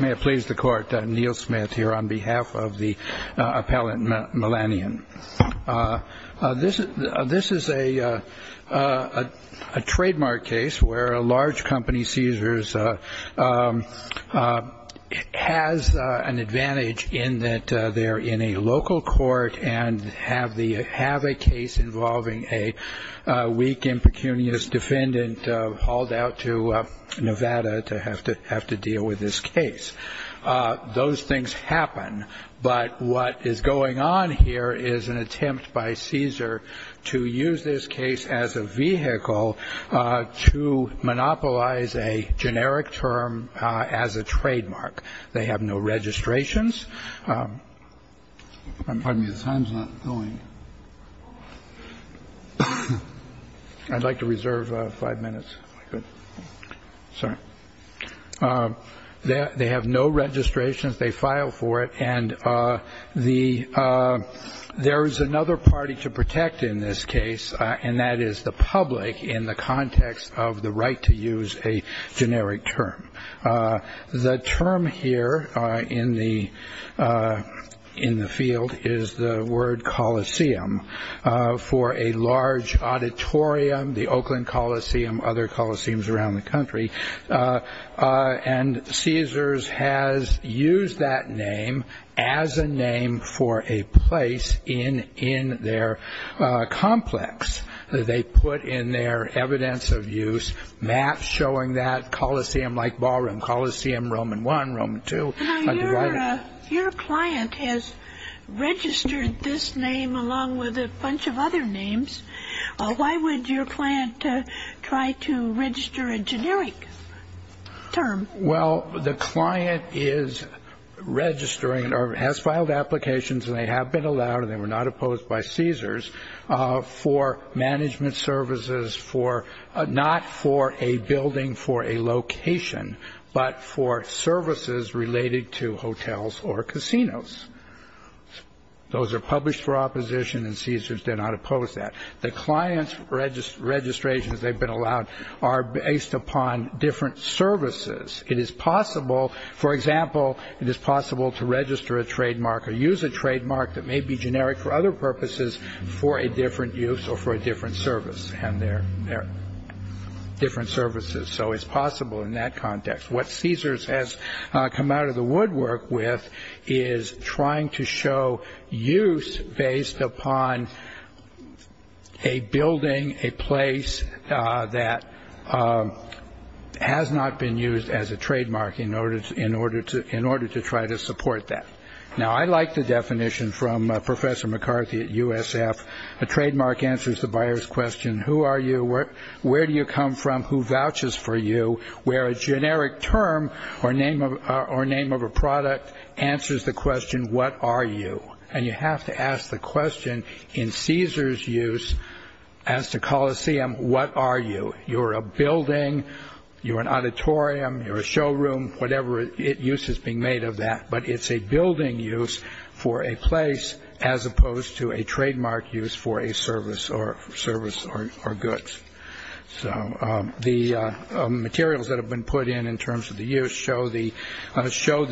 May it please the court, Neil Smith here on behalf of the appellant Milanian. This is a trademark case where a large company, Caesars, has an advantage in that they are in a local court and have a case involving a weak, impecunious defendant hauled out to Nevada to have to deal with this case. Those things happen, but what is going on here is an attempt by Caesar to use this case as a vehicle to monopolize a generic term as a trademark. They have no registrations. I'd like to reserve five minutes. So they have no registrations. They file for it. And the there is another party to protect in this case, and that is the public in the context of the right to use a generic term. The term here in the field is the word coliseum. For a large auditorium, the Oakland Coliseum, other coliseums around the country, and Caesars has used that name as a name for a place in their complex. They put in their evidence of use maps showing that coliseum-like ballroom, Coliseum Roman I, Roman II. Now, your client has registered this name along with a bunch of other names. Why would your client try to register a generic term? Well, the client is registering or has filed applications, and they have been allowed, and they were not opposed by Caesars, for management services for not for a building, for a location, but for services related to hotels or casinos. Those are published for opposition, and Caesars did not oppose that. The client's registrations they've been allowed are based upon different services. It is possible, for example, it is possible to register a trademark or use a trademark that may be generic for other purposes for a different use or for a different service, and they're different services, so it's possible in that context. What Caesars has come out of the woodwork with is trying to show use based upon a building, a place that has not been used as a trademark in order to try to support that. Now, I like the definition from Professor McCarthy at USF. A trademark answers the buyer's question, who are you, where do you come from, who vouches for you, where a generic term or name of a product answers the question, what are you, and you have to ask the question in Caesars' use as to Coliseum, what are you. You're a building, you're an auditorium, you're a showroom, whatever use is being made of that, but it's a building use for a place as opposed to a trademark use for a service or goods. So the materials that have been put in in terms of the use show the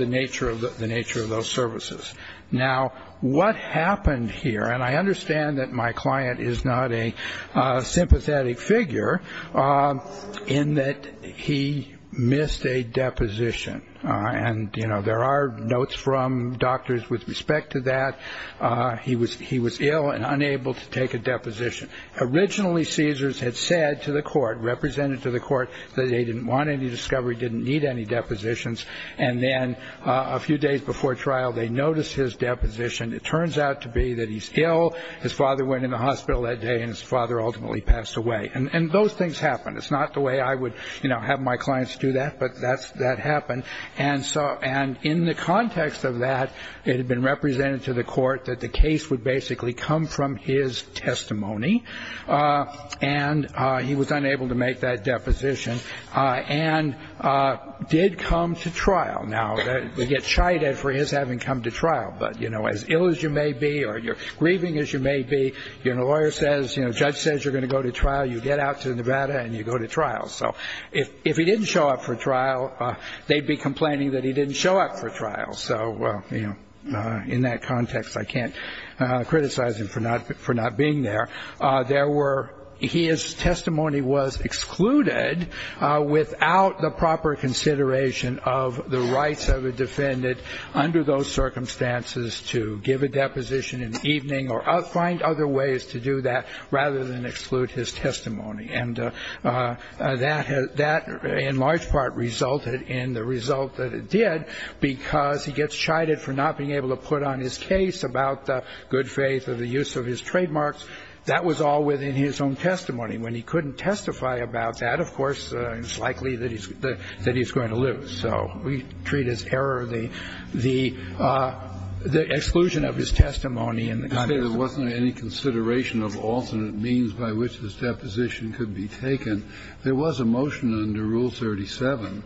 nature of those services. Now, what happened here, and I understand that my client is not a sympathetic figure, in that he missed a deposition, and, you know, there are notes from doctors with respect to that. He was ill and unable to take a deposition. Originally Caesars had said to the court, represented to the court, that they didn't want any discovery, didn't need any depositions, and then a few days before trial they noticed his deposition. It turns out to be that he's ill. His father went in the hospital that day, and his father ultimately passed away. And those things happen. It's not the way I would, you know, have my clients do that, but that happened. And in the context of that, it had been represented to the court that the case would basically come from his testimony, and he was unable to make that deposition and did come to trial. Now, they get chided for his having come to trial. But, you know, as ill as you may be or grieving as you may be, you know, a lawyer says, you know, a judge says you're going to go to trial, you get out to Nevada and you go to trial. So if he didn't show up for trial, they'd be complaining that he didn't show up for trial. So, you know, in that context, I can't criticize him for not being there. There were his testimony was excluded without the proper consideration of the rights of a defendant under those circumstances to give a deposition in the evening or find other ways to do that rather than exclude his testimony. And that in large part resulted in the result that it did, because he gets chided for not being able to put on his case about the good faith of the use of his trademarks. That was all within his own testimony. When he couldn't testify about that, of course, it's likely that he's going to lose. So we treat his error, the exclusion of his testimony in the context of that. The court has made a decision as to what means by which this deposition could be taken. There was a motion under Rule 37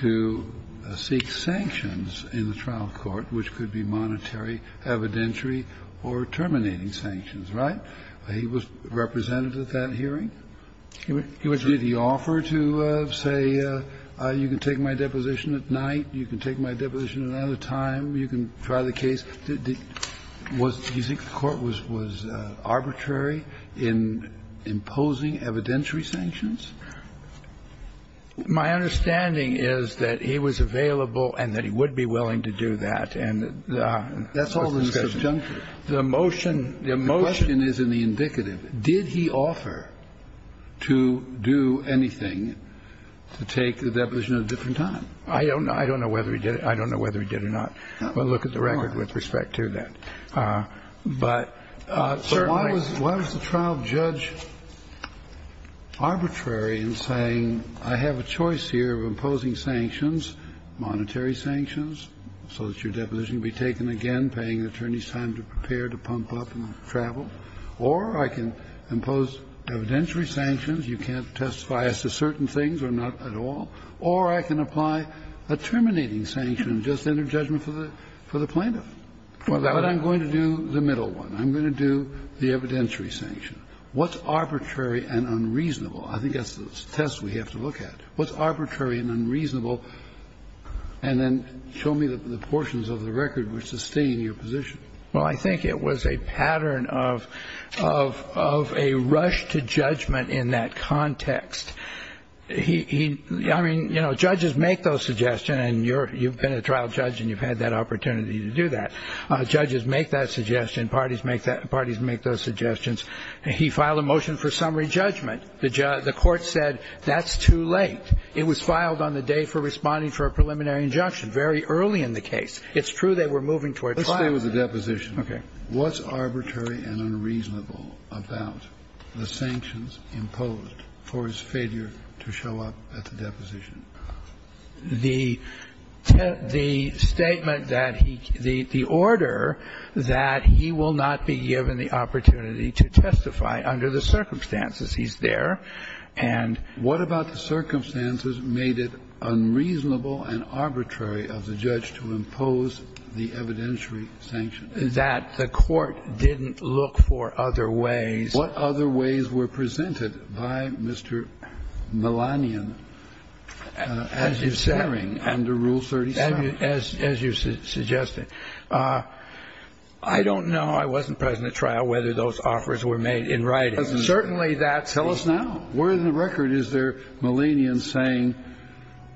to seek sanctions in the trial court, which could be monetary, evidentiary or terminating sanctions, right? He was represented at that hearing. Did he offer to say, you can take my deposition at night, you can take my deposition at another time, you can try the case? Was the court was arbitrary in imposing evidentiary sanctions? My understanding is that he was available and that he would be willing to do that. And that's all the discussion. The motion is in the indicative. Did he offer to do anything to take the deposition at a different time? I don't know. I don't know whether he did it. I don't know whether he did or not. We'll look at the record with respect to that. But why was the trial judge arbitrary in saying, I have a choice here of imposing sanctions, monetary sanctions, so that your deposition can be taken again, paying an attorney's time to prepare, to pump up and travel, or I can impose evidentiary sanctions, you can't testify as to certain things or not at all, or I can apply a terminating sanction and just enter judgment for the plaintiff. But I'm going to do the middle one. I'm going to do the evidentiary sanction. What's arbitrary and unreasonable? I think that's the test we have to look at. What's arbitrary and unreasonable? And then show me the portions of the record which sustain your position. Well, I think it was a pattern of a rush to judgment in that context. He – I mean, you know, judges make those suggestions, and you've been a trial judge and you've had that opportunity to do that. Judges make that suggestion. Parties make those suggestions. He filed a motion for summary judgment. The court said that's too late. It was filed on the day for responding for a preliminary injunction, very early in the case. It's true they were moving towards trial. Let's stay with the deposition. Okay. What's arbitrary and unreasonable about the sanctions imposed for his failure to show up at the deposition? The statement that he – the order that he will not be given the opportunity to testify under the circumstances. He's there. And what about the circumstances made it unreasonable and arbitrary of the judge to impose the evidentiary sanctions? That the court didn't look for other ways. What other ways were presented by Mr. Melanion as you're saying under Rule 37? As you suggested. I don't know. I wasn't present at trial whether those offers were made in writing. Certainly that's – Tell us now. Where in the record is there Melanion saying,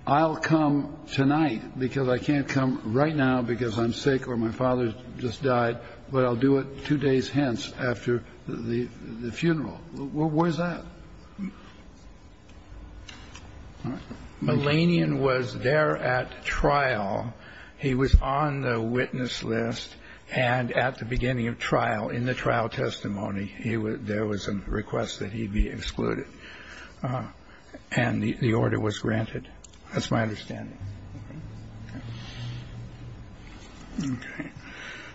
I'll come tonight because I can't come right now because I'm sick or my father just died, but I'll do it two days hence after the funeral. Where's that? Melanion was there at trial. He was on the witness list and at the beginning of trial, in the trial testimony, there was a request that he be excluded. And the order was granted. That's my understanding.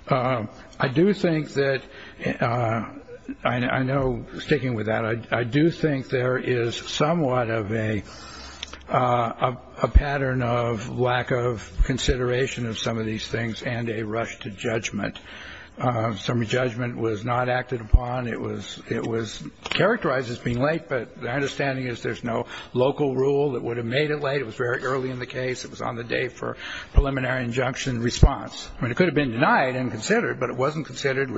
I do think that – I know, sticking with that, I do think there is somewhat of a pattern of lack of consideration of some of these things and a rush to judgment. Some judgment was not acted upon. It was characterized as being late, but my understanding is there's no local rule that would have made it late. It was very early in the case. It was on the date for preliminary injunction response. I mean, it could have been denied and considered, but it wasn't considered.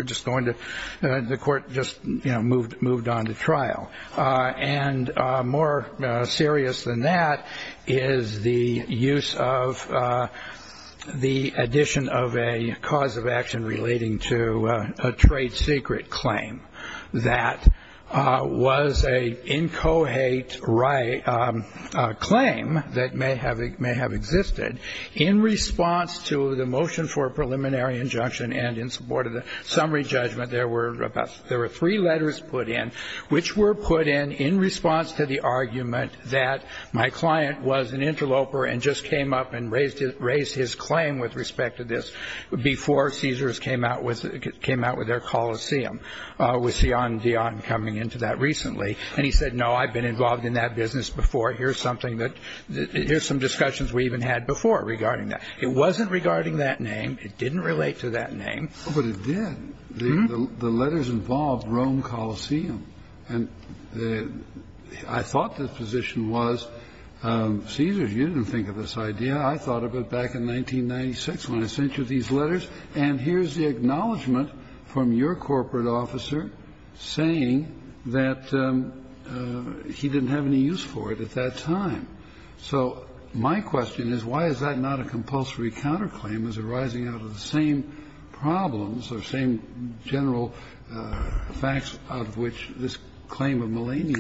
And more serious than that is the use of the addition of a cause of action relating to a trade secret claim that was a incohate claim that may have existed in response to the motion for preliminary injunction and in support of the summary judgment. There were three letters put in, which were put in in response to the argument that my client was an interloper and just came up and raised his claim with respect to this before Caesars came out with their coliseum, with Sion Dion coming into that recently. And he said, no, I've been involved in that business before. Here's something that – here's some discussions we even had before regarding that. It wasn't regarding that name. It didn't relate to that name. But it did. The letters involved Rome Coliseum. And I thought the position was, Caesar, you didn't think of this idea. I thought of it back in 1996 when I sent you these letters. And here's the acknowledgment from your corporate officer saying that he didn't have any use for it at that time. So my question is, why is that not a compulsory counterclaim as arising out of the same problems or same general facts out of which this claim of Melania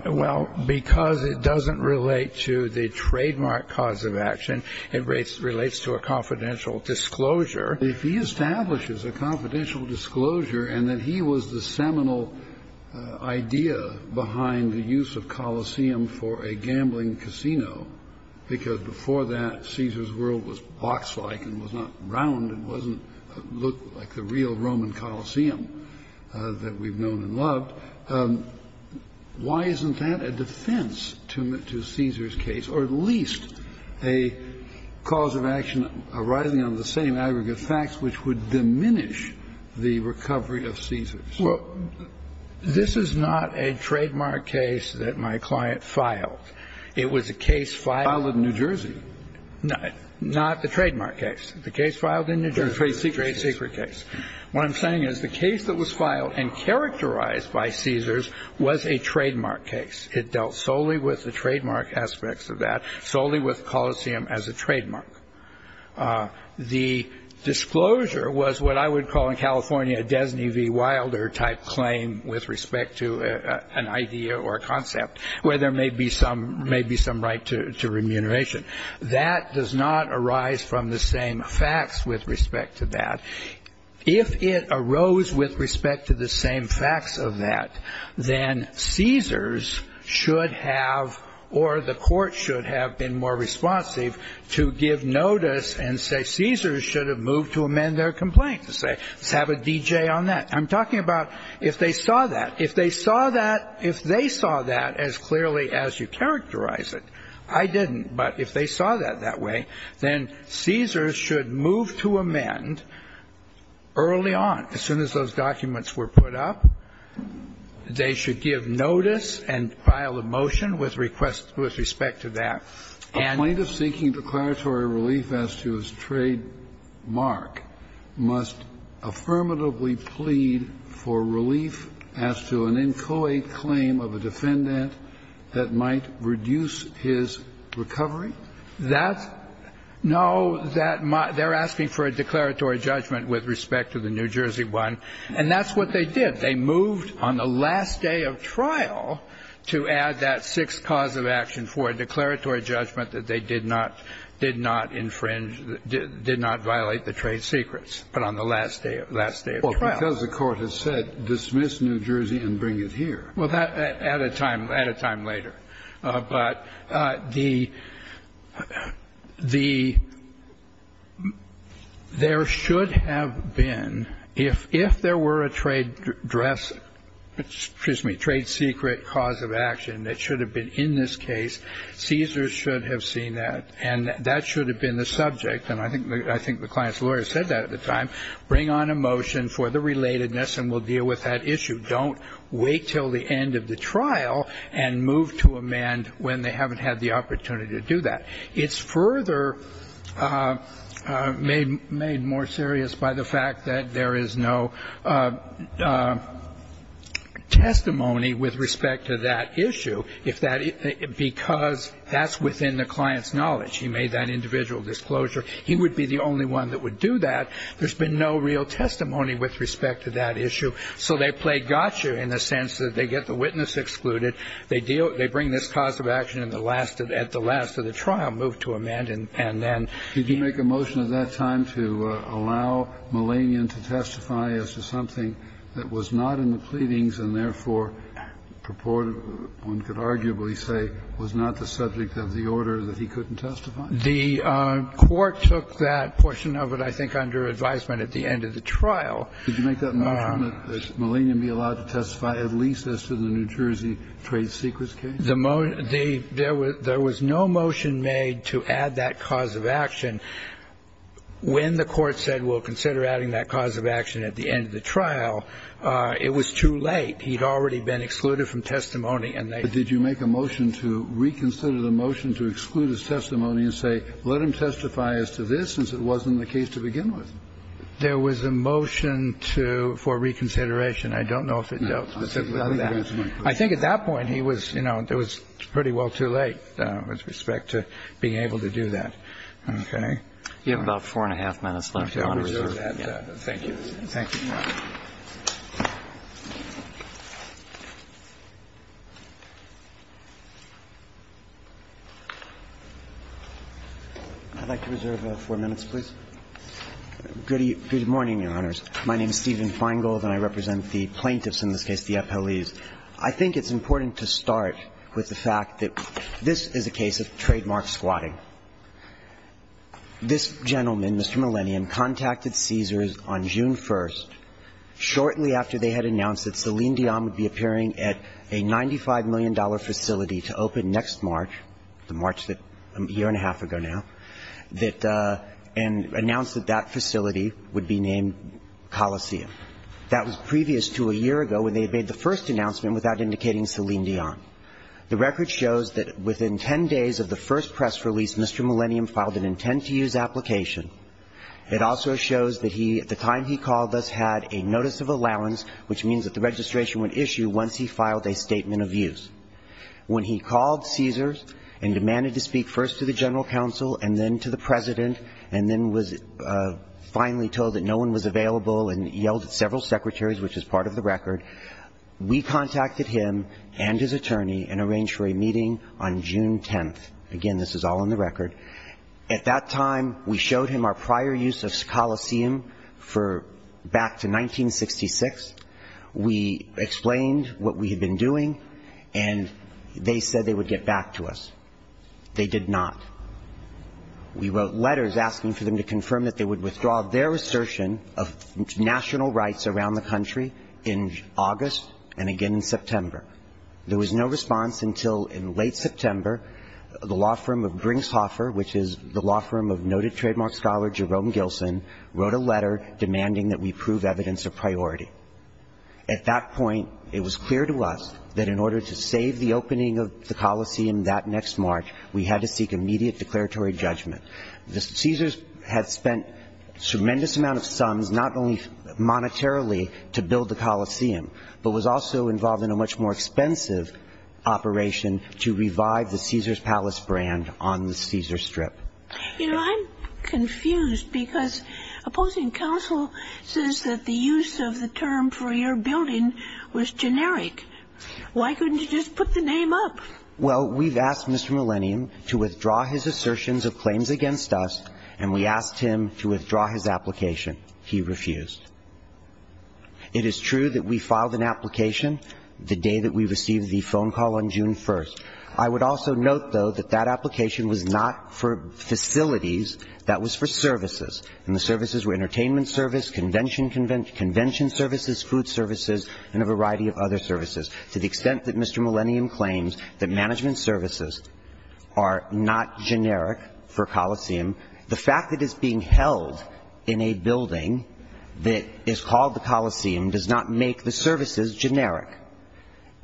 – Well, because it doesn't relate to the trademark cause of action. It relates to a confidential disclosure. If he establishes a confidential disclosure and that he was the seminal idea behind the use of coliseum for a gambling casino, because before that Caesar's world was box-like and was not round and wasn't – looked like the real Roman Coliseum that we've known and loved, why isn't that a defense to Caesar's case or at least a cause of action arising out of the same aggregate facts which would diminish the recovery of Caesar's? Well, this is not a trademark case that my client filed. It was a case filed in New Jersey. No, not the trademark case. The case filed in New Jersey, the trade secret case. What I'm saying is the case that was filed and characterized by Caesar's was a trademark case. It dealt solely with the trademark aspects of that, solely with coliseum as a trademark. The disclosure was what I would call in California a Desney v. Wilder type claim with respect to an idea or a concept where there may be some right to remuneration. That does not arise from the same facts with respect to that. If it arose with respect to the same facts of that, then Caesar's should have – or the court should have been more responsive to give notice and say Caesar's should have moved to amend their complaint, to say let's have a DJ on that. I'm talking about if they saw that. If they saw that as clearly as you characterize it. I didn't. But if they saw that that way, then Caesar's should move to amend early on, as soon as those documents were put up. They should give notice and file a motion with request – with respect to that. And – A plaintiff seeking declaratory relief as to his trademark must affirmatively plead for relief as to an inchoate claim of a defendant that might reduce his recovery? That's – no, that – they're asking for a declaratory judgment with respect to the New Jersey one. And that's what they did. They moved on the last day of trial to add that sixth cause of action for a declaratory judgment that they did not – did not infringe – did not violate the trade secrets, but on the last day of – last day of trial. Well, because the court has said dismiss New Jersey and bring it here. Well, that – at a time – at a time later. But the – the – there should have been – if there were a trade dress – excuse me – trade secret cause of action that should have been in this case, Caesar's should have seen that. And that should have been the subject. And I think – I think the client's lawyer said that at the time. Bring on a motion for the relatedness and we'll deal with that issue. Don't wait till the end of the trial and move to amend when they haven't had the opportunity to do that. It's further made more serious by the fact that there is no testimony with respect to that issue. If that – because that's within the client's knowledge. He made that individual disclosure. He would be the only one that would do that. There's been no real testimony with respect to that issue. So they play gotcha in the sense that they get the witness excluded. They deal – they bring this cause of action in the last – at the last of the trial, move to amend, and then the – Did you make a motion at that time to allow Mullanian to testify as to something that was not in the pleadings and therefore purported – one could arguably say was not the subject of the order that he couldn't testify? The court took that portion of it, I think, under advisement at the end of the trial. Did you make that motion that Mullanian be allowed to testify at least as to the New Jersey trade secrets case? The – there was no motion made to add that cause of action. When the court said, well, consider adding that cause of action at the end of the trial, it was too late. He had already been excluded from testimony. Did you make a motion to reconsider the motion to exclude his testimony and say, let him testify as to this since it wasn't the case to begin with? There was a motion to – for reconsideration. I don't know if it dealt specifically with that. I think at that point, he was – you know, it was pretty well too late with respect to being able to do that. Okay. You have about four and a half minutes left. I want to reserve that. Thank you. Thank you. I'd like to reserve four minutes, please. Good morning, Your Honors. My name is Stephen Feingold and I represent the plaintiffs in this case, the FLEs. I think it's important to start with the fact that this is a case of trademark squatting. This gentleman, Mr. Mullanian, contacted Caesars on June 1st, shortly after they had announced that Celine Dion would be appearing at a $95 million facility to open next March, the March that – a year and a half ago now, that – and announced that that facility would be named Coliseum. That was previous to a year ago when they had made the first announcement without indicating Celine Dion. The record shows that within 10 days of the first press release, Mr. Mullanian filed an intent-to-use application. It also shows that he, at the time he called us, had a notice of allowance, which means that the registration would issue once he filed a statement of use. When he called Caesars and demanded to speak first to the General Counsel and then to the President and then was finally told that no one was available and yelled at several secretaries, which is part of the record, we contacted him and his attorney and arranged for a meeting on June 10th. Again, this is all in the record. At that time, we showed him our prior use of Coliseum for – back to 1966. We explained what we had been doing, and they said they would get back to us. They did not. We wrote letters asking for them to confirm that they would withdraw their assertion of national rights around the country in August and again in September. There was no response until in late September the law firm of Gringshoffer, which is the law firm of noted trademark scholar Jerome Gilson, wrote a letter demanding that we prove evidence of priority. At that point, it was clear to us that in order to save the opening of the Coliseum that next March, we had to seek immediate declaratory judgment. Caesars had spent a tremendous amount of sums not only monetarily to build the Coliseum but was also involved in a much more expensive operation to revive the Caesars Palace brand on the Caesars Strip. You know, I'm confused because opposing counsel says that the use of the term for your building was generic. Why couldn't you just put the name up? Well, we've asked Mr. Millennium to withdraw his assertions of claims against us, and we asked him to withdraw his application. He refused. It is true that we filed an application the day that we received the phone call on June 1st. I would also note, though, that that application was not for facilities. That was for services. And the services were entertainment service, convention services, food services, and a variety of other services. To the extent that Mr. Millennium claims that management services are not generic for Coliseum, the fact that it's being held in a building that is called the Coliseum does not make the services generic.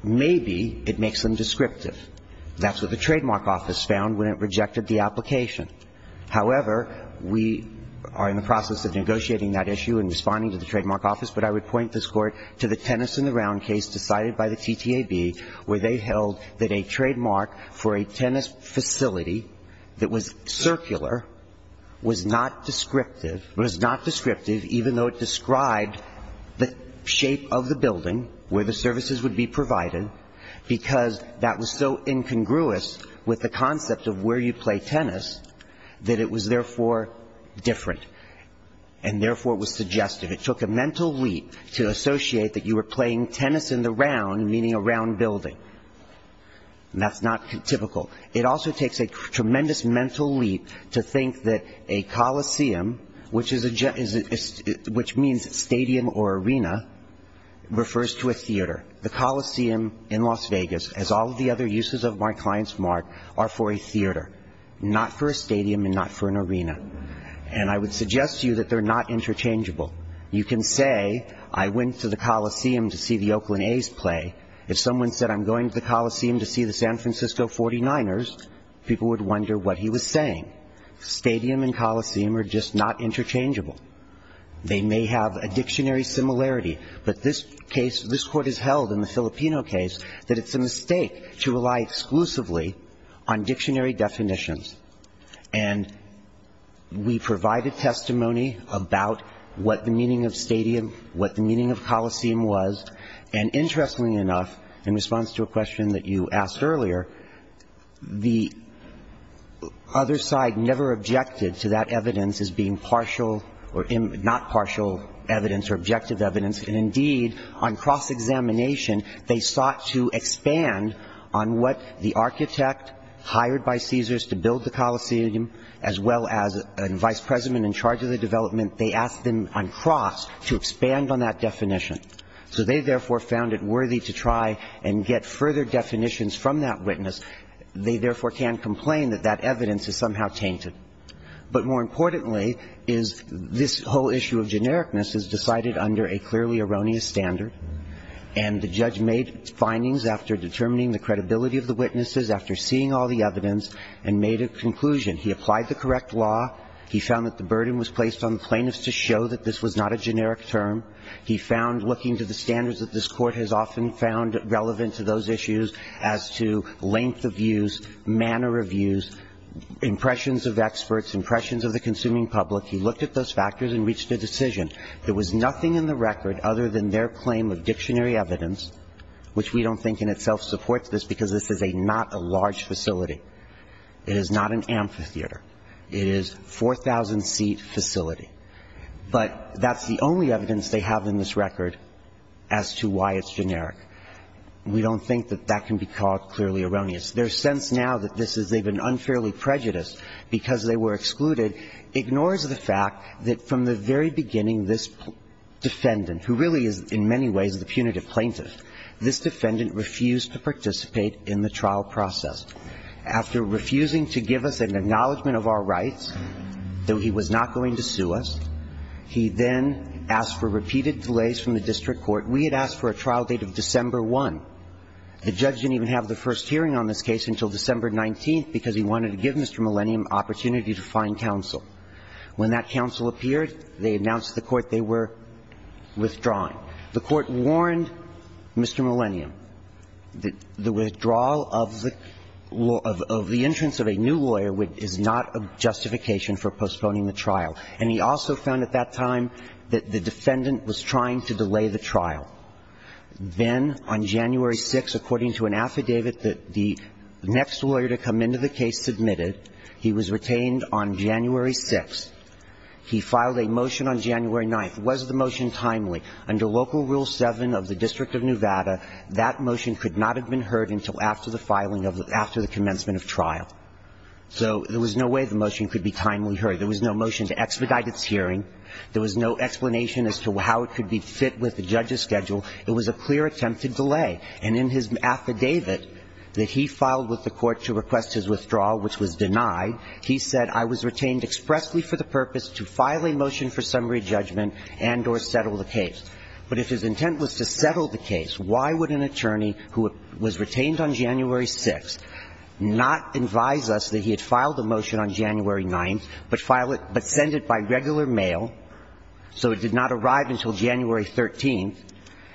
Maybe it makes them descriptive. That's what the Trademark Office found when it rejected the application. However, we are in the process of negotiating that issue and responding to the Trademark Office, but I would point this Court to the tennis-in-the-round case decided by the TTAB where they held that a trademark for a tennis facility that was circular was not descriptive, was not descriptive even though it described the shape of the services would be provided because that was so incongruous with the concept of where you play tennis that it was therefore different, and therefore was suggestive. It took a mental leap to associate that you were playing tennis-in-the-round, meaning a round building. That's not typical. It also takes a tremendous mental leap to think that a Coliseum, which means stadium or arena, refers to a theater. The Coliseum in Las Vegas, as all of the other uses of my client's mark, are for a theater, not for a stadium and not for an arena. And I would suggest to you that they're not interchangeable. You can say I went to the Coliseum to see the Oakland A's play. If someone said I'm going to the Coliseum to see the San Francisco 49ers, people would wonder what he was saying. Stadium and Coliseum are just not interchangeable. They may have a dictionary similarity, but this case, this court has held in the Filipino case that it's a mistake to rely exclusively on dictionary definitions. And we provided testimony about what the meaning of stadium, what the meaning of Coliseum was, and interestingly enough, in response to a question that you asked earlier, the other side never objected to that evidence as being partial or not partial evidence or objective evidence, and indeed, on cross-examination, they sought to expand on what the architect hired by Caesars to build the Coliseum, as well as a vice president in charge of the development, they asked them on cross to expand on that definition. So they therefore found it worthy to try and get further definitions from that witness. They therefore can't complain that that evidence is somehow tainted. But more importantly is this whole issue of genericness is decided under a clearly erroneous standard, and the judge made findings after determining the credibility of the witnesses, after seeing all the evidence, and made a conclusion. He applied the correct law. He found that the burden was placed on the plaintiffs to show that this was not a generic problem. He found, looking to the standards that this Court has often found relevant to those issues as to length of views, manner of views, impressions of experts, impressions of the consuming public, he looked at those factors and reached a decision. There was nothing in the record other than their claim of dictionary evidence, which we don't think in itself supports this, because this is not a large facility. It is not an amphitheater. It is a 4,000-seat facility. But that's the only evidence they have in this record as to why it's generic. We don't think that that can be called clearly erroneous. Their sense now that this is even unfairly prejudiced because they were excluded ignores the fact that from the very beginning, this defendant, who really is in many ways the punitive plaintiff, this defendant refused to participate in the trial process. After refusing to give us an acknowledgment of our rights, though he was not going to sue us, he then asked for repeated delays from the district court. We had asked for a trial date of December 1. The judge didn't even have the first hearing on this case until December 19 because he wanted to give Mr. Millennium opportunity to find counsel. When that counsel appeared, they announced to the Court they were withdrawing. The Court warned Mr. Millennium that the withdrawal of the law of the entrance of a new lawyer is not a justification for postponing the trial. And he also found at that time that the defendant was trying to delay the trial. Then on January 6, according to an affidavit that the next lawyer to come into the case submitted, he was retained on January 6. He filed a motion on January 9. Was the motion timely? Under Local Rule 7 of the District of Nevada, that motion could not have been heard until after the filing of the – after the commencement of trial. So there was no way the motion could be timely heard. There was no motion to expedite its hearing. There was no explanation as to how it could be fit with the judge's schedule. It was a clear attempt to delay. And in his affidavit that he filed with the Court to request his withdrawal, which was denied, he said, I was retained expressly for the purpose to file a motion for summary judgment and or settle the case. But if his intent was to settle the case, why would an attorney who was retained on January 6 not advise us that he had filed a motion on January 9, but file it – but send it by regular mail so it did not arrive until January 13?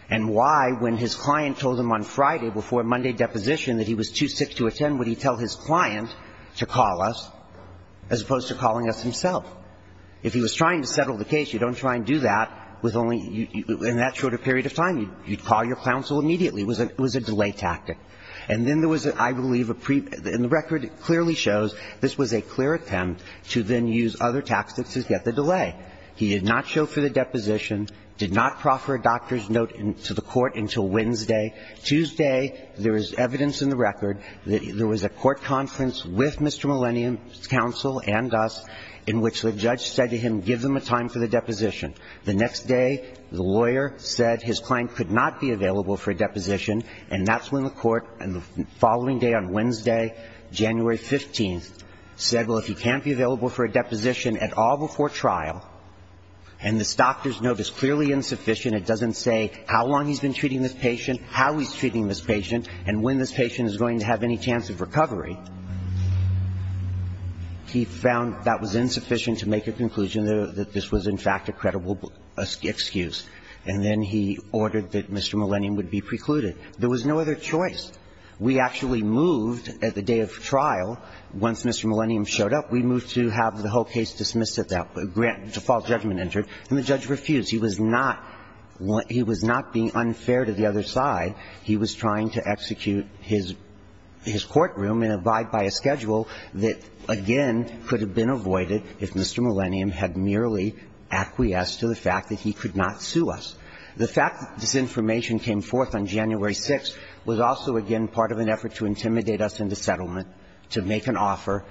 And why, when his client told him on Friday before Monday deposition that he was too sick to attend, would he tell his client to call us as opposed to calling us himself? If he was trying to settle the case, you don't try and do that with only – in that short a period of time. You'd call your counsel immediately. It was a delay tactic. And then there was, I believe, a – and the record clearly shows this was a clear attempt to then use other tactics to get the delay. He did not show for the deposition, did not proffer a doctor's note to the Court until Wednesday. Tuesday there is evidence in the record that there was a court conference with Mr. Millennium's counsel and us in which the judge said to him, give them a time for the deposition. The next day, the lawyer said his client could not be available for a deposition, and that's when the Court on the following day on Wednesday, January 15, said, well, if he can't be available for a deposition at all before trial, and this doctor's note is clearly insufficient, it doesn't say how long he's been treating this patient, how he's treating this patient, and when this patient is going to have any chance of recovery, he found that was insufficient to make a conclusion that this was, in fact, a credible excuse. And then he ordered that Mr. Millennium would be precluded. There was no other choice. We actually moved at the day of trial, once Mr. Millennium showed up, we moved to have the whole case dismissed at that point, a false judgment entered, and the judge was not able to make a conclusion. He was not being unfair to the other side. He was trying to execute his courtroom and abide by a schedule that, again, could have been avoided if Mr. Millennium had merely acquiesced to the fact that he could not sue us. The fact that this information came forth on January 6 was also, again, part of an effort to intimidate us into settlement, to make an offer.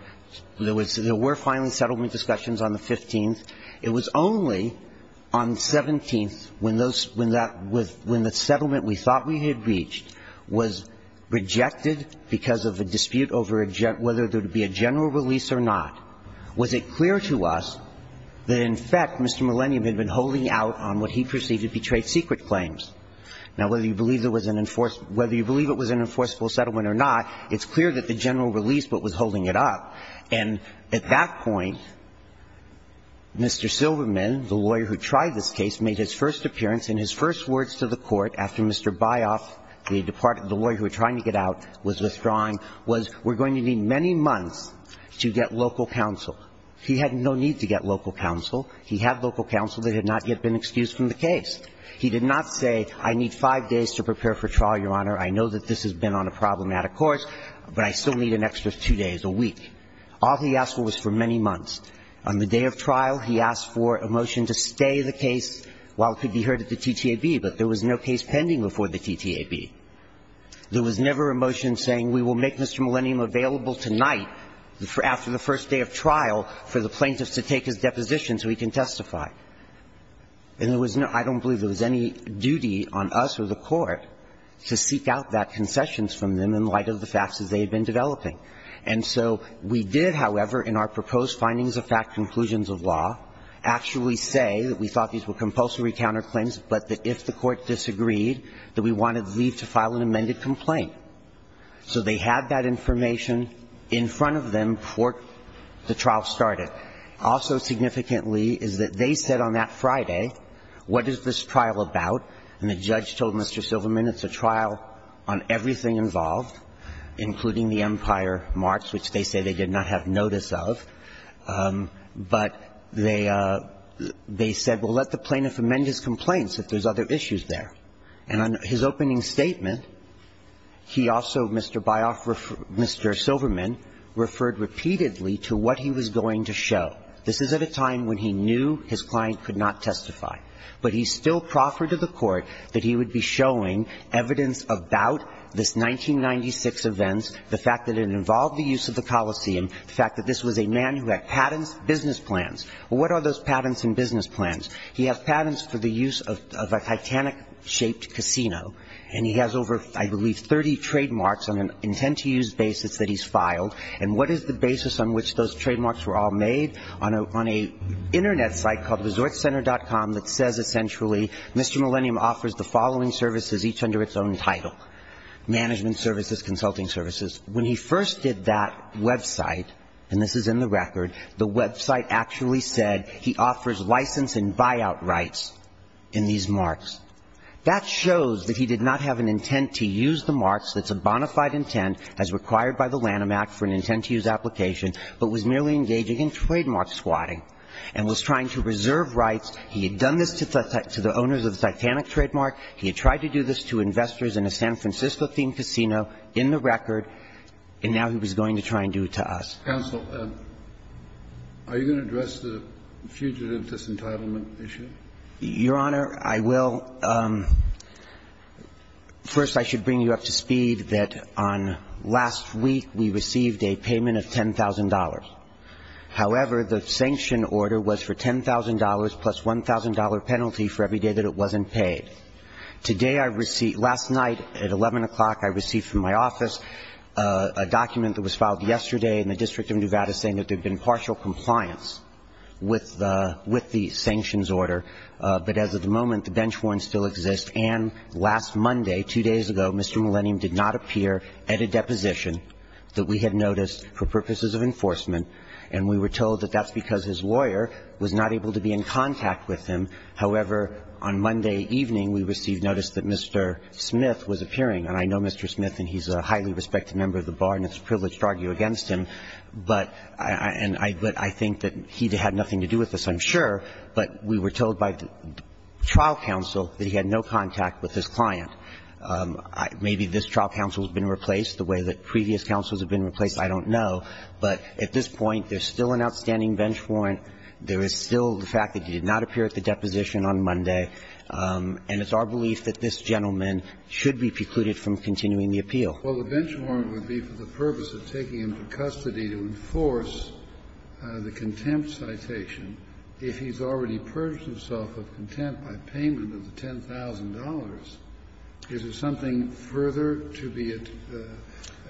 There were finally settlement discussions on the 15th. It was only on the 17th, when the settlement we thought we had reached was rejected because of a dispute over whether there would be a general release or not, was it clear to us that, in fact, Mr. Millennium had been holding out on what he perceived to be trade secret claims. Now, whether you believe it was an enforceable settlement or not, it's clear that He had been holding out on what he perceived to be a trade secret claim. He had not made the general release but was holding it up. And at that point, Mr. Silverman, the lawyer who tried this case, made his first appearance and his first words to the Court after Mr. Byoff, the lawyer who was trying to get out, was withdrawing, was, we're going to need many months to get local counsel. But I still need an extra two days, a week. All he asked for was for many months. On the day of trial, he asked for a motion to stay the case while it could be heard at the TTAB. But there was no case pending before the TTAB. There was never a motion saying, we will make Mr. Millennium available tonight, after the first day of trial, for the plaintiffs to take his deposition so he can testify. And there was no – I don't believe there was any duty on us or the Court to seek out that concessions from them in light of the facts as they had been developing. And so we did, however, in our proposed findings of fact conclusions of law, actually say that we thought these were compulsory counterclaims, but that if the Court disagreed, that we wanted to leave to file an amended complaint. So they had that information in front of them before the trial started. Also significantly is that they said on that Friday, what is this trial about? And the judge told Mr. Silverman it's a trial on everything involved, including the Empire March, which they say they did not have notice of. But they – they said, well, let the plaintiff amend his complaints if there's other issues there. And on his opening statement, he also, Mr. Byoff – Mr. Silverman referred repeatedly to what he was going to show. This is at a time when he knew his client could not testify. But he still proffered to the Court that he would be showing evidence about this 1996 event, the fact that it involved the use of the Coliseum, the fact that this was a man who had patents, business plans. Well, what are those patents and business plans? He has patents for the use of a Titanic-shaped casino. And he has over, I believe, 30 trademarks on an intent-to-use basis that he's filed. And what is the basis on which those trademarks were all made? has a website on a – on a Internet site called resortcenter.com that says essentially Mr. Millennium offers the following services, each under its own title, management services, consulting services. When he first did that website, and this is in the record, the website actually said he offers license and buyout rights in these marks. That shows that he did not have an intent-to-use the marks. That's a bona fide intent as required by the Lanham Act for an intent-to-use application, but was merely engaging in trademark swatting and was trying to reserve rights. He had done this to the owners of the Titanic trademark. He had tried to do this to investors in a San Francisco-themed casino in the record, and now he was going to try and do it to us. Kennedy. Are you going to address the fugitive disentitlement issue? Your Honor, I will. First, I should bring you up to speed that on last week we received a payment of $10,000. However, the sanction order was for $10,000 plus $1,000 penalty for every day that it wasn't paid. Today I received – last night at 11 o'clock I received from my office a document that was filed yesterday in the District of Nevada saying that there had been partial compliance with the – with the sanctions order. But as of the moment, the bench warrants still exist. And last Monday, two days ago, Mr. Millennium did not appear at a deposition that we had noticed for purposes of enforcement, and we were told that that's because his lawyer was not able to be in contact with him. However, on Monday evening, we received notice that Mr. Smith was appearing. And I know Mr. Smith, and he's a highly respected member of the bar, and it's a privileged argument against him, but – and I – but I think that he had nothing to do with this, I'm sure. But we were told by trial counsel that he had no contact with his client. Maybe this trial counsel has been replaced the way that previous counsels have been replaced, I don't know. But at this point, there's still an outstanding bench warrant. There is still the fact that he did not appear at the deposition on Monday. And it's our belief that this gentleman should be precluded from continuing the appeal. Kennedy. Well, the bench warrant would be for the purpose of taking him to custody to enforce the contempt citation if he's already purged himself of contempt by payment of the $10,000. Is there something further to be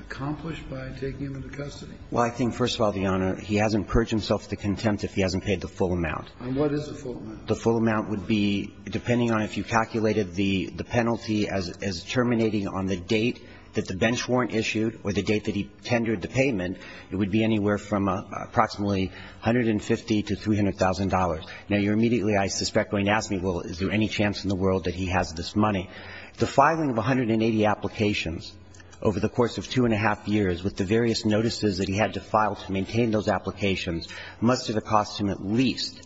accomplished by taking him into custody? Well, I think, first of all, Your Honor, he hasn't purged himself of contempt if he hasn't paid the full amount. And what is the full amount? The full amount would be, depending on if you calculated the penalty as terminating on the date that the bench warrant issued or the date that he tendered the payment, it would be anywhere from approximately $150,000 to $300,000. Now, you're immediately, I suspect, going to ask me, well, is there any chance in the world that he has this money? The filing of 180 applications over the course of two and a half years with the various notices that he had to file to maintain those applications must have cost him at least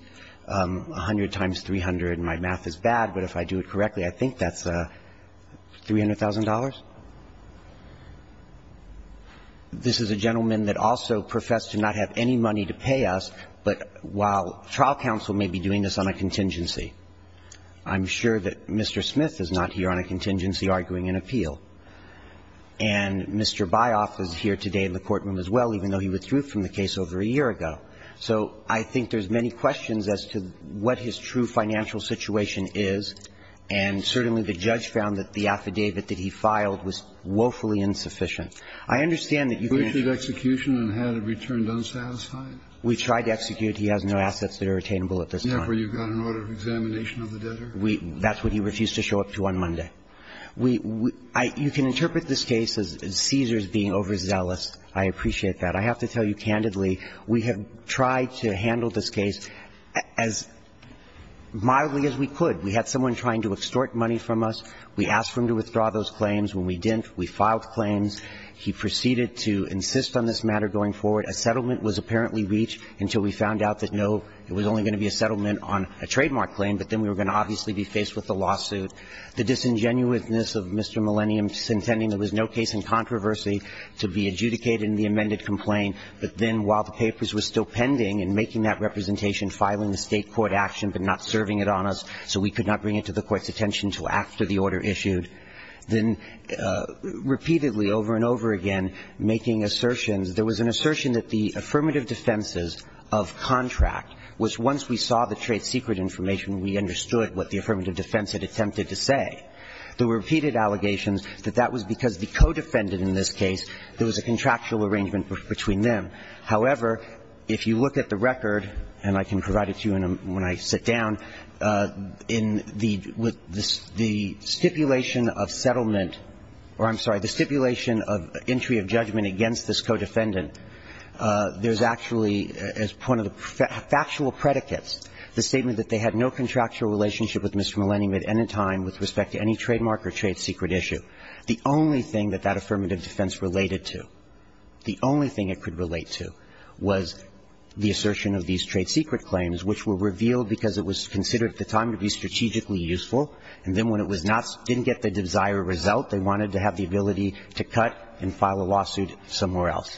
100 times 300, and my math is bad, but if I do it correctly, I think that's $300,000. This is a gentleman that also professed to not have any money to pay us, but while trial counsel may be doing this on a contingency, I'm sure that Mr. Smith is not here on a contingency arguing an appeal. And Mr. Byoff is here today in the courtroom as well, even though he withdrew from the case over a year ago. So I think there's many questions as to what his true financial situation is, and certainly the judge found that the affidavit that he filed was woefully insufficient. I understand that you can't. Kennedy. Who issued execution and had it returned unsatisfied? We tried to execute. He has no assets that are attainable at this time. Therefore, you've got an order of examination of the debtor. That's what he refused to show up to on Monday. You can interpret this case as Caesars being overzealous. I appreciate that. I have to tell you candidly, we have tried to handle this case as mildly as we could. We had someone trying to extort money from us. We asked for him to withdraw those claims. When we didn't, we filed claims. He proceeded to insist on this matter going forward. A settlement was apparently reached until we found out that, no, it was only going to be a settlement on a trademark claim, but then we were going to obviously be faced with a lawsuit. The disingenuousness of Mr. Millennium's intending there was no case in controversy to be adjudicated in the amended complaint, but then while the papers were still pending and making that representation, filing a State court action but not serving it on us so we could not bring it to the court's attention until after the order issued, then repeatedly over and over again making assertions. There was an assertion that the affirmative defenses of contract was once we saw the trade secret information, we understood what the affirmative defense had attempted to say. There were repeated allegations that that was because the co-defendant in this case, there was a contractual arrangement between them. However, if you look at the record, and I can provide it to you when I sit down, in the stipulation of settlement, or I'm sorry, the stipulation of entry of judgment against this co-defendant, there's actually, as one of the factual predicates, the statement that they had no contractual relationship with Mr. Millennium at any time with respect to any trademark or trade secret issue. The only thing that that affirmative defense related to, the only thing it could relate to, was the assertion of these trade secret claims, which were revealed because it was considered at the time to be strategically useful, and then when it was not, didn't get the desired result, they wanted to have the ability to cut and file a lawsuit somewhere else.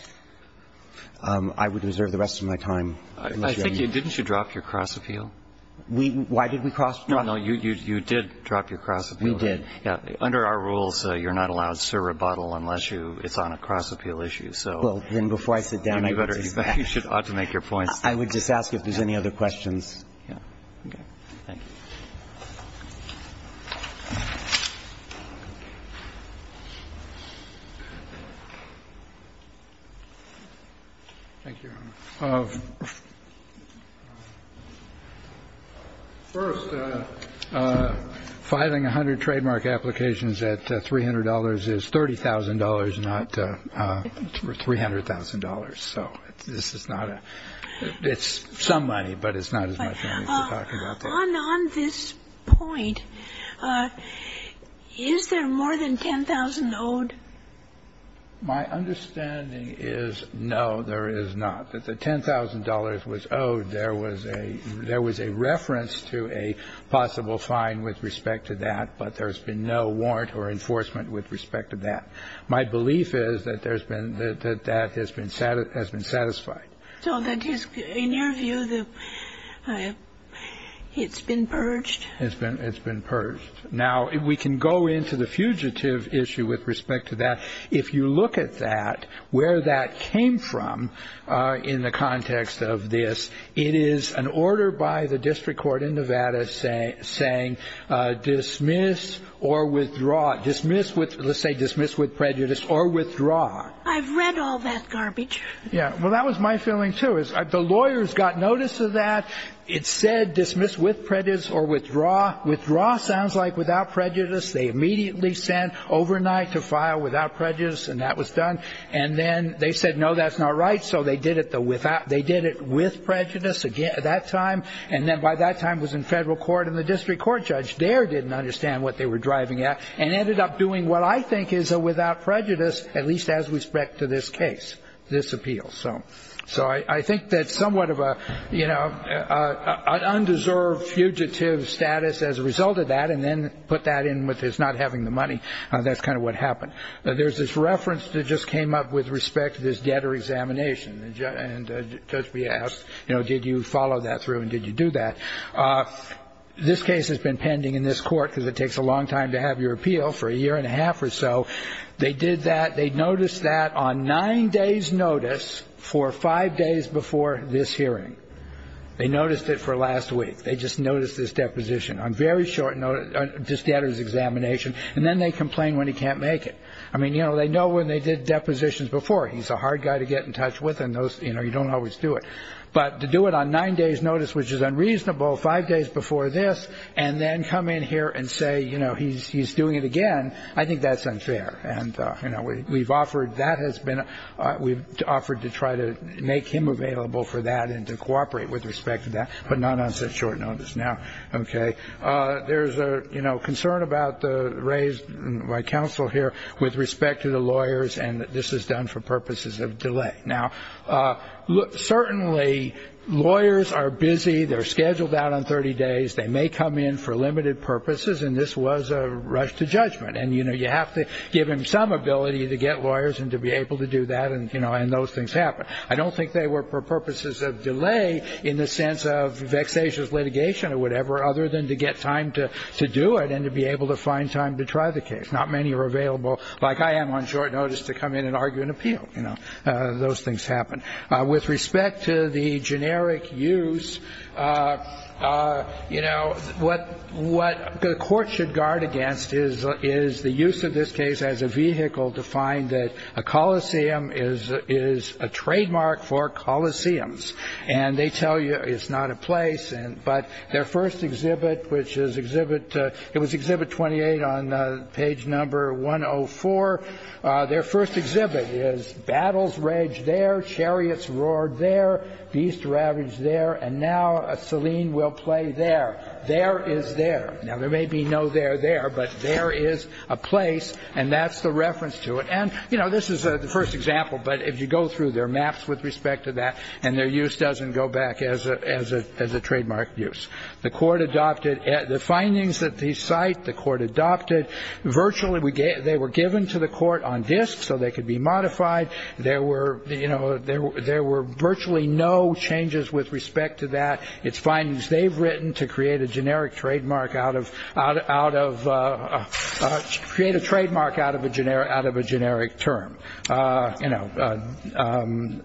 I would reserve the rest of my time. I think you, didn't you drop your cross-appeal? We, why did we cross? No, no, you did drop your cross-appeal. We did. Yeah. Under our rules, you're not allowed to serve a bottle unless you, it's on a cross-appeal issue, so. Well, then before I sit down, I'd better step back. You ought to make your points. I would just ask if there's any other questions. Yeah. Okay. Thank you. Thank you. First, filing 100 trademark applications at $300 is $30,000, not $300,000. So this is not a, it's some money, but it's not as much money as we're talking about there. On this point, is there more than $10,000 owed? My understanding is no, there is not. That the $10,000 was owed, there was a reference to a possible fine with respect to that, but there's been no warrant or enforcement with respect to that. My belief is that that has been satisfied. So that is, in your view, it's been purged? It's been purged. Now, we can go into the fugitive issue with respect to that. If you look at that, where that came from in the context of this, it is an order by the district court in Nevada saying dismiss or withdraw. Dismiss with, let's say dismiss with prejudice or withdraw. I've read all that garbage. Yeah. Well, that was my feeling, too, is the lawyers got notice of that. It said dismiss with prejudice or withdraw. Withdraw sounds like without prejudice. They immediately sent overnight to file without prejudice, and that was done. And then they said, no, that's not right. So they did it with prejudice that time, and then by that time was in federal court, and the district court judge there didn't understand what they were driving at and ended up doing what I think is a without prejudice, at least as respect to this case, this appeal. So I think that somewhat of an undeserved fugitive status as a result of that and then put that in with his not having the money, that's kind of what happened. There's this reference that just came up with respect to this debtor examination, and Judge B asked, you know, did you follow that through and did you do that? This case has been pending in this court because it takes a long time to have your appeal for a year and a half or so. They did that. They noticed that on nine days' notice for five days before this hearing. They noticed it for last week. They just noticed this deposition on very short notice, this debtor's examination, and then they complain when he can't make it. I mean, you know, they know when they did depositions before. He's a hard guy to get in touch with, and, you know, you don't always do it. But to do it on nine days' notice, which is unreasonable, five days before this, and then come in here and say, you know, he's doing it again, I think that's unfair. And, you know, we've offered to try to make him available for that and to cooperate with respect to that, but not on such short notice now. Okay. There's a, you know, concern about the raised by counsel here with respect to the lawyers, and this is done for purposes of delay. Now, certainly lawyers are busy. They're scheduled out on 30 days. They may come in for limited purposes, and this was a rush to judgment. And, you know, you have to give him some ability to get lawyers and to be able to do that and, you know, and those things happen. I don't think they were for purposes of delay in the sense of vexatious litigation or whatever, other than to get time to do it and to be able to find time to try the case. Not many are available, like I am, on short notice to come in and argue an appeal. You know, those things happen. With respect to the generic use, you know, what the court should guard against is the use of this case as a vehicle to find that a coliseum is a trademark for coliseums. And they tell you it's not a place. But their first exhibit, which is Exhibit — it was Exhibit 28 on page number 104. Their first exhibit is Battles Raged There, Chariots Roared There, Beasts Ravaged There, and Now Selene Will Play There. There is there. Now, there may be no there there, but there is a place, and that's the reference to it. And, you know, this is the first example, but if you go through their maps with respect to that, and their use doesn't go back as a trademark use. The court adopted — the findings that the site, the court adopted, virtually they were given to the court on disks so they could be modified. There were, you know, there were virtually no changes with respect to that. It's findings they've written to create a generic trademark out of — create a trademark out of a generic term. You know,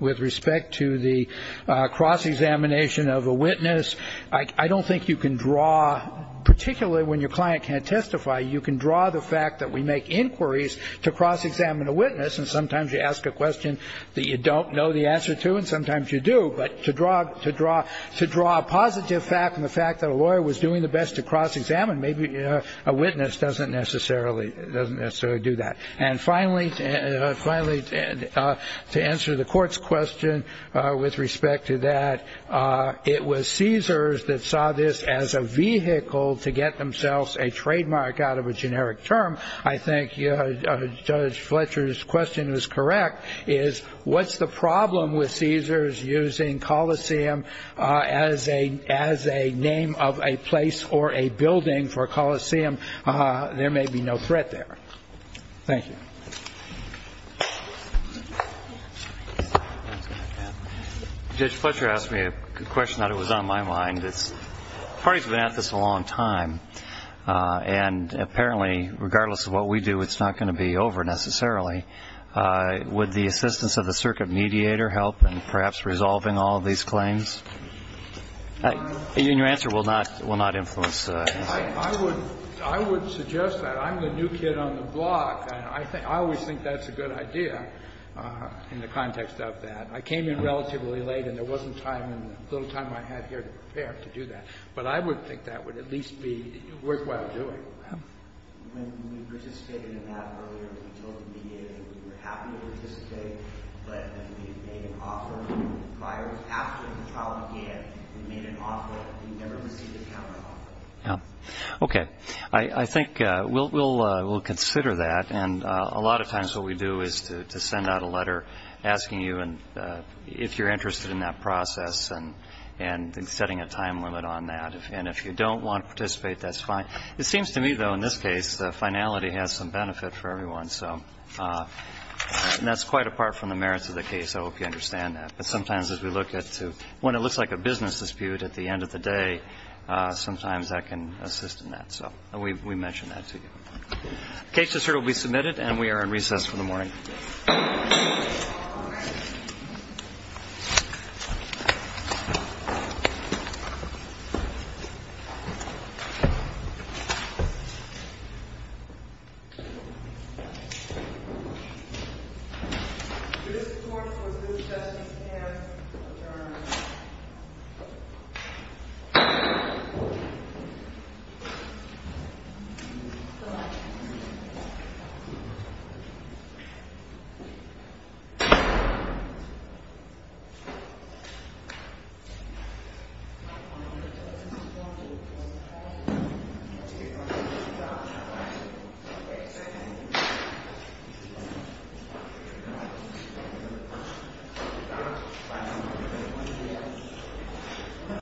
with respect to the cross-examination of a witness, I don't think you can draw — particularly when your client can't testify, you can draw the fact that we make inquiries to cross-examine a witness, and sometimes you ask a question that you don't know the answer to, and sometimes you do. But to draw a positive fact from the fact that a lawyer was doing the best to cross-examine, maybe a witness doesn't necessarily do that. And finally, to answer the court's question with respect to that, it was Caesars that saw this as a vehicle to get themselves a trademark out of a generic term. I think Judge Fletcher's question is correct, is what's the problem with Caesars using Coliseum as a name of a place or a building for Coliseum? There may be no threat there. Thank you. Judge Fletcher asked me a question that was on my mind. The party's been at this a long time, and apparently, regardless of what we do, it's not going to be over necessarily. Would the assistance of the circuit mediator help in perhaps resolving all these claims? And your answer will not influence the answer. I would suggest that. I'm the new kid on the block, and I always think that's a good idea in the context of that. I came in relatively late, and there wasn't time, little time I had here to prepare to do that. But I would think that would at least be worthwhile doing. When we participated in that earlier, we told the mediator we were happy to participate, but we made an offer. Prior to after the trial began, we made an offer. We never received a counteroffer. Okay. I think we'll consider that. And a lot of times what we do is to send out a letter asking you if you're interested in that process and setting a time limit on that. And if you don't want to participate, that's fine. It seems to me, though, in this case, finality has some benefit for everyone. So that's quite apart from the merits of the case. I hope you understand that. But sometimes as we look at when it looks like a business dispute at the end of the day, sometimes that can assist in that. So we mention that to you. The case is here to be submitted, and we are in recess for the morning. Thank you. Thank you.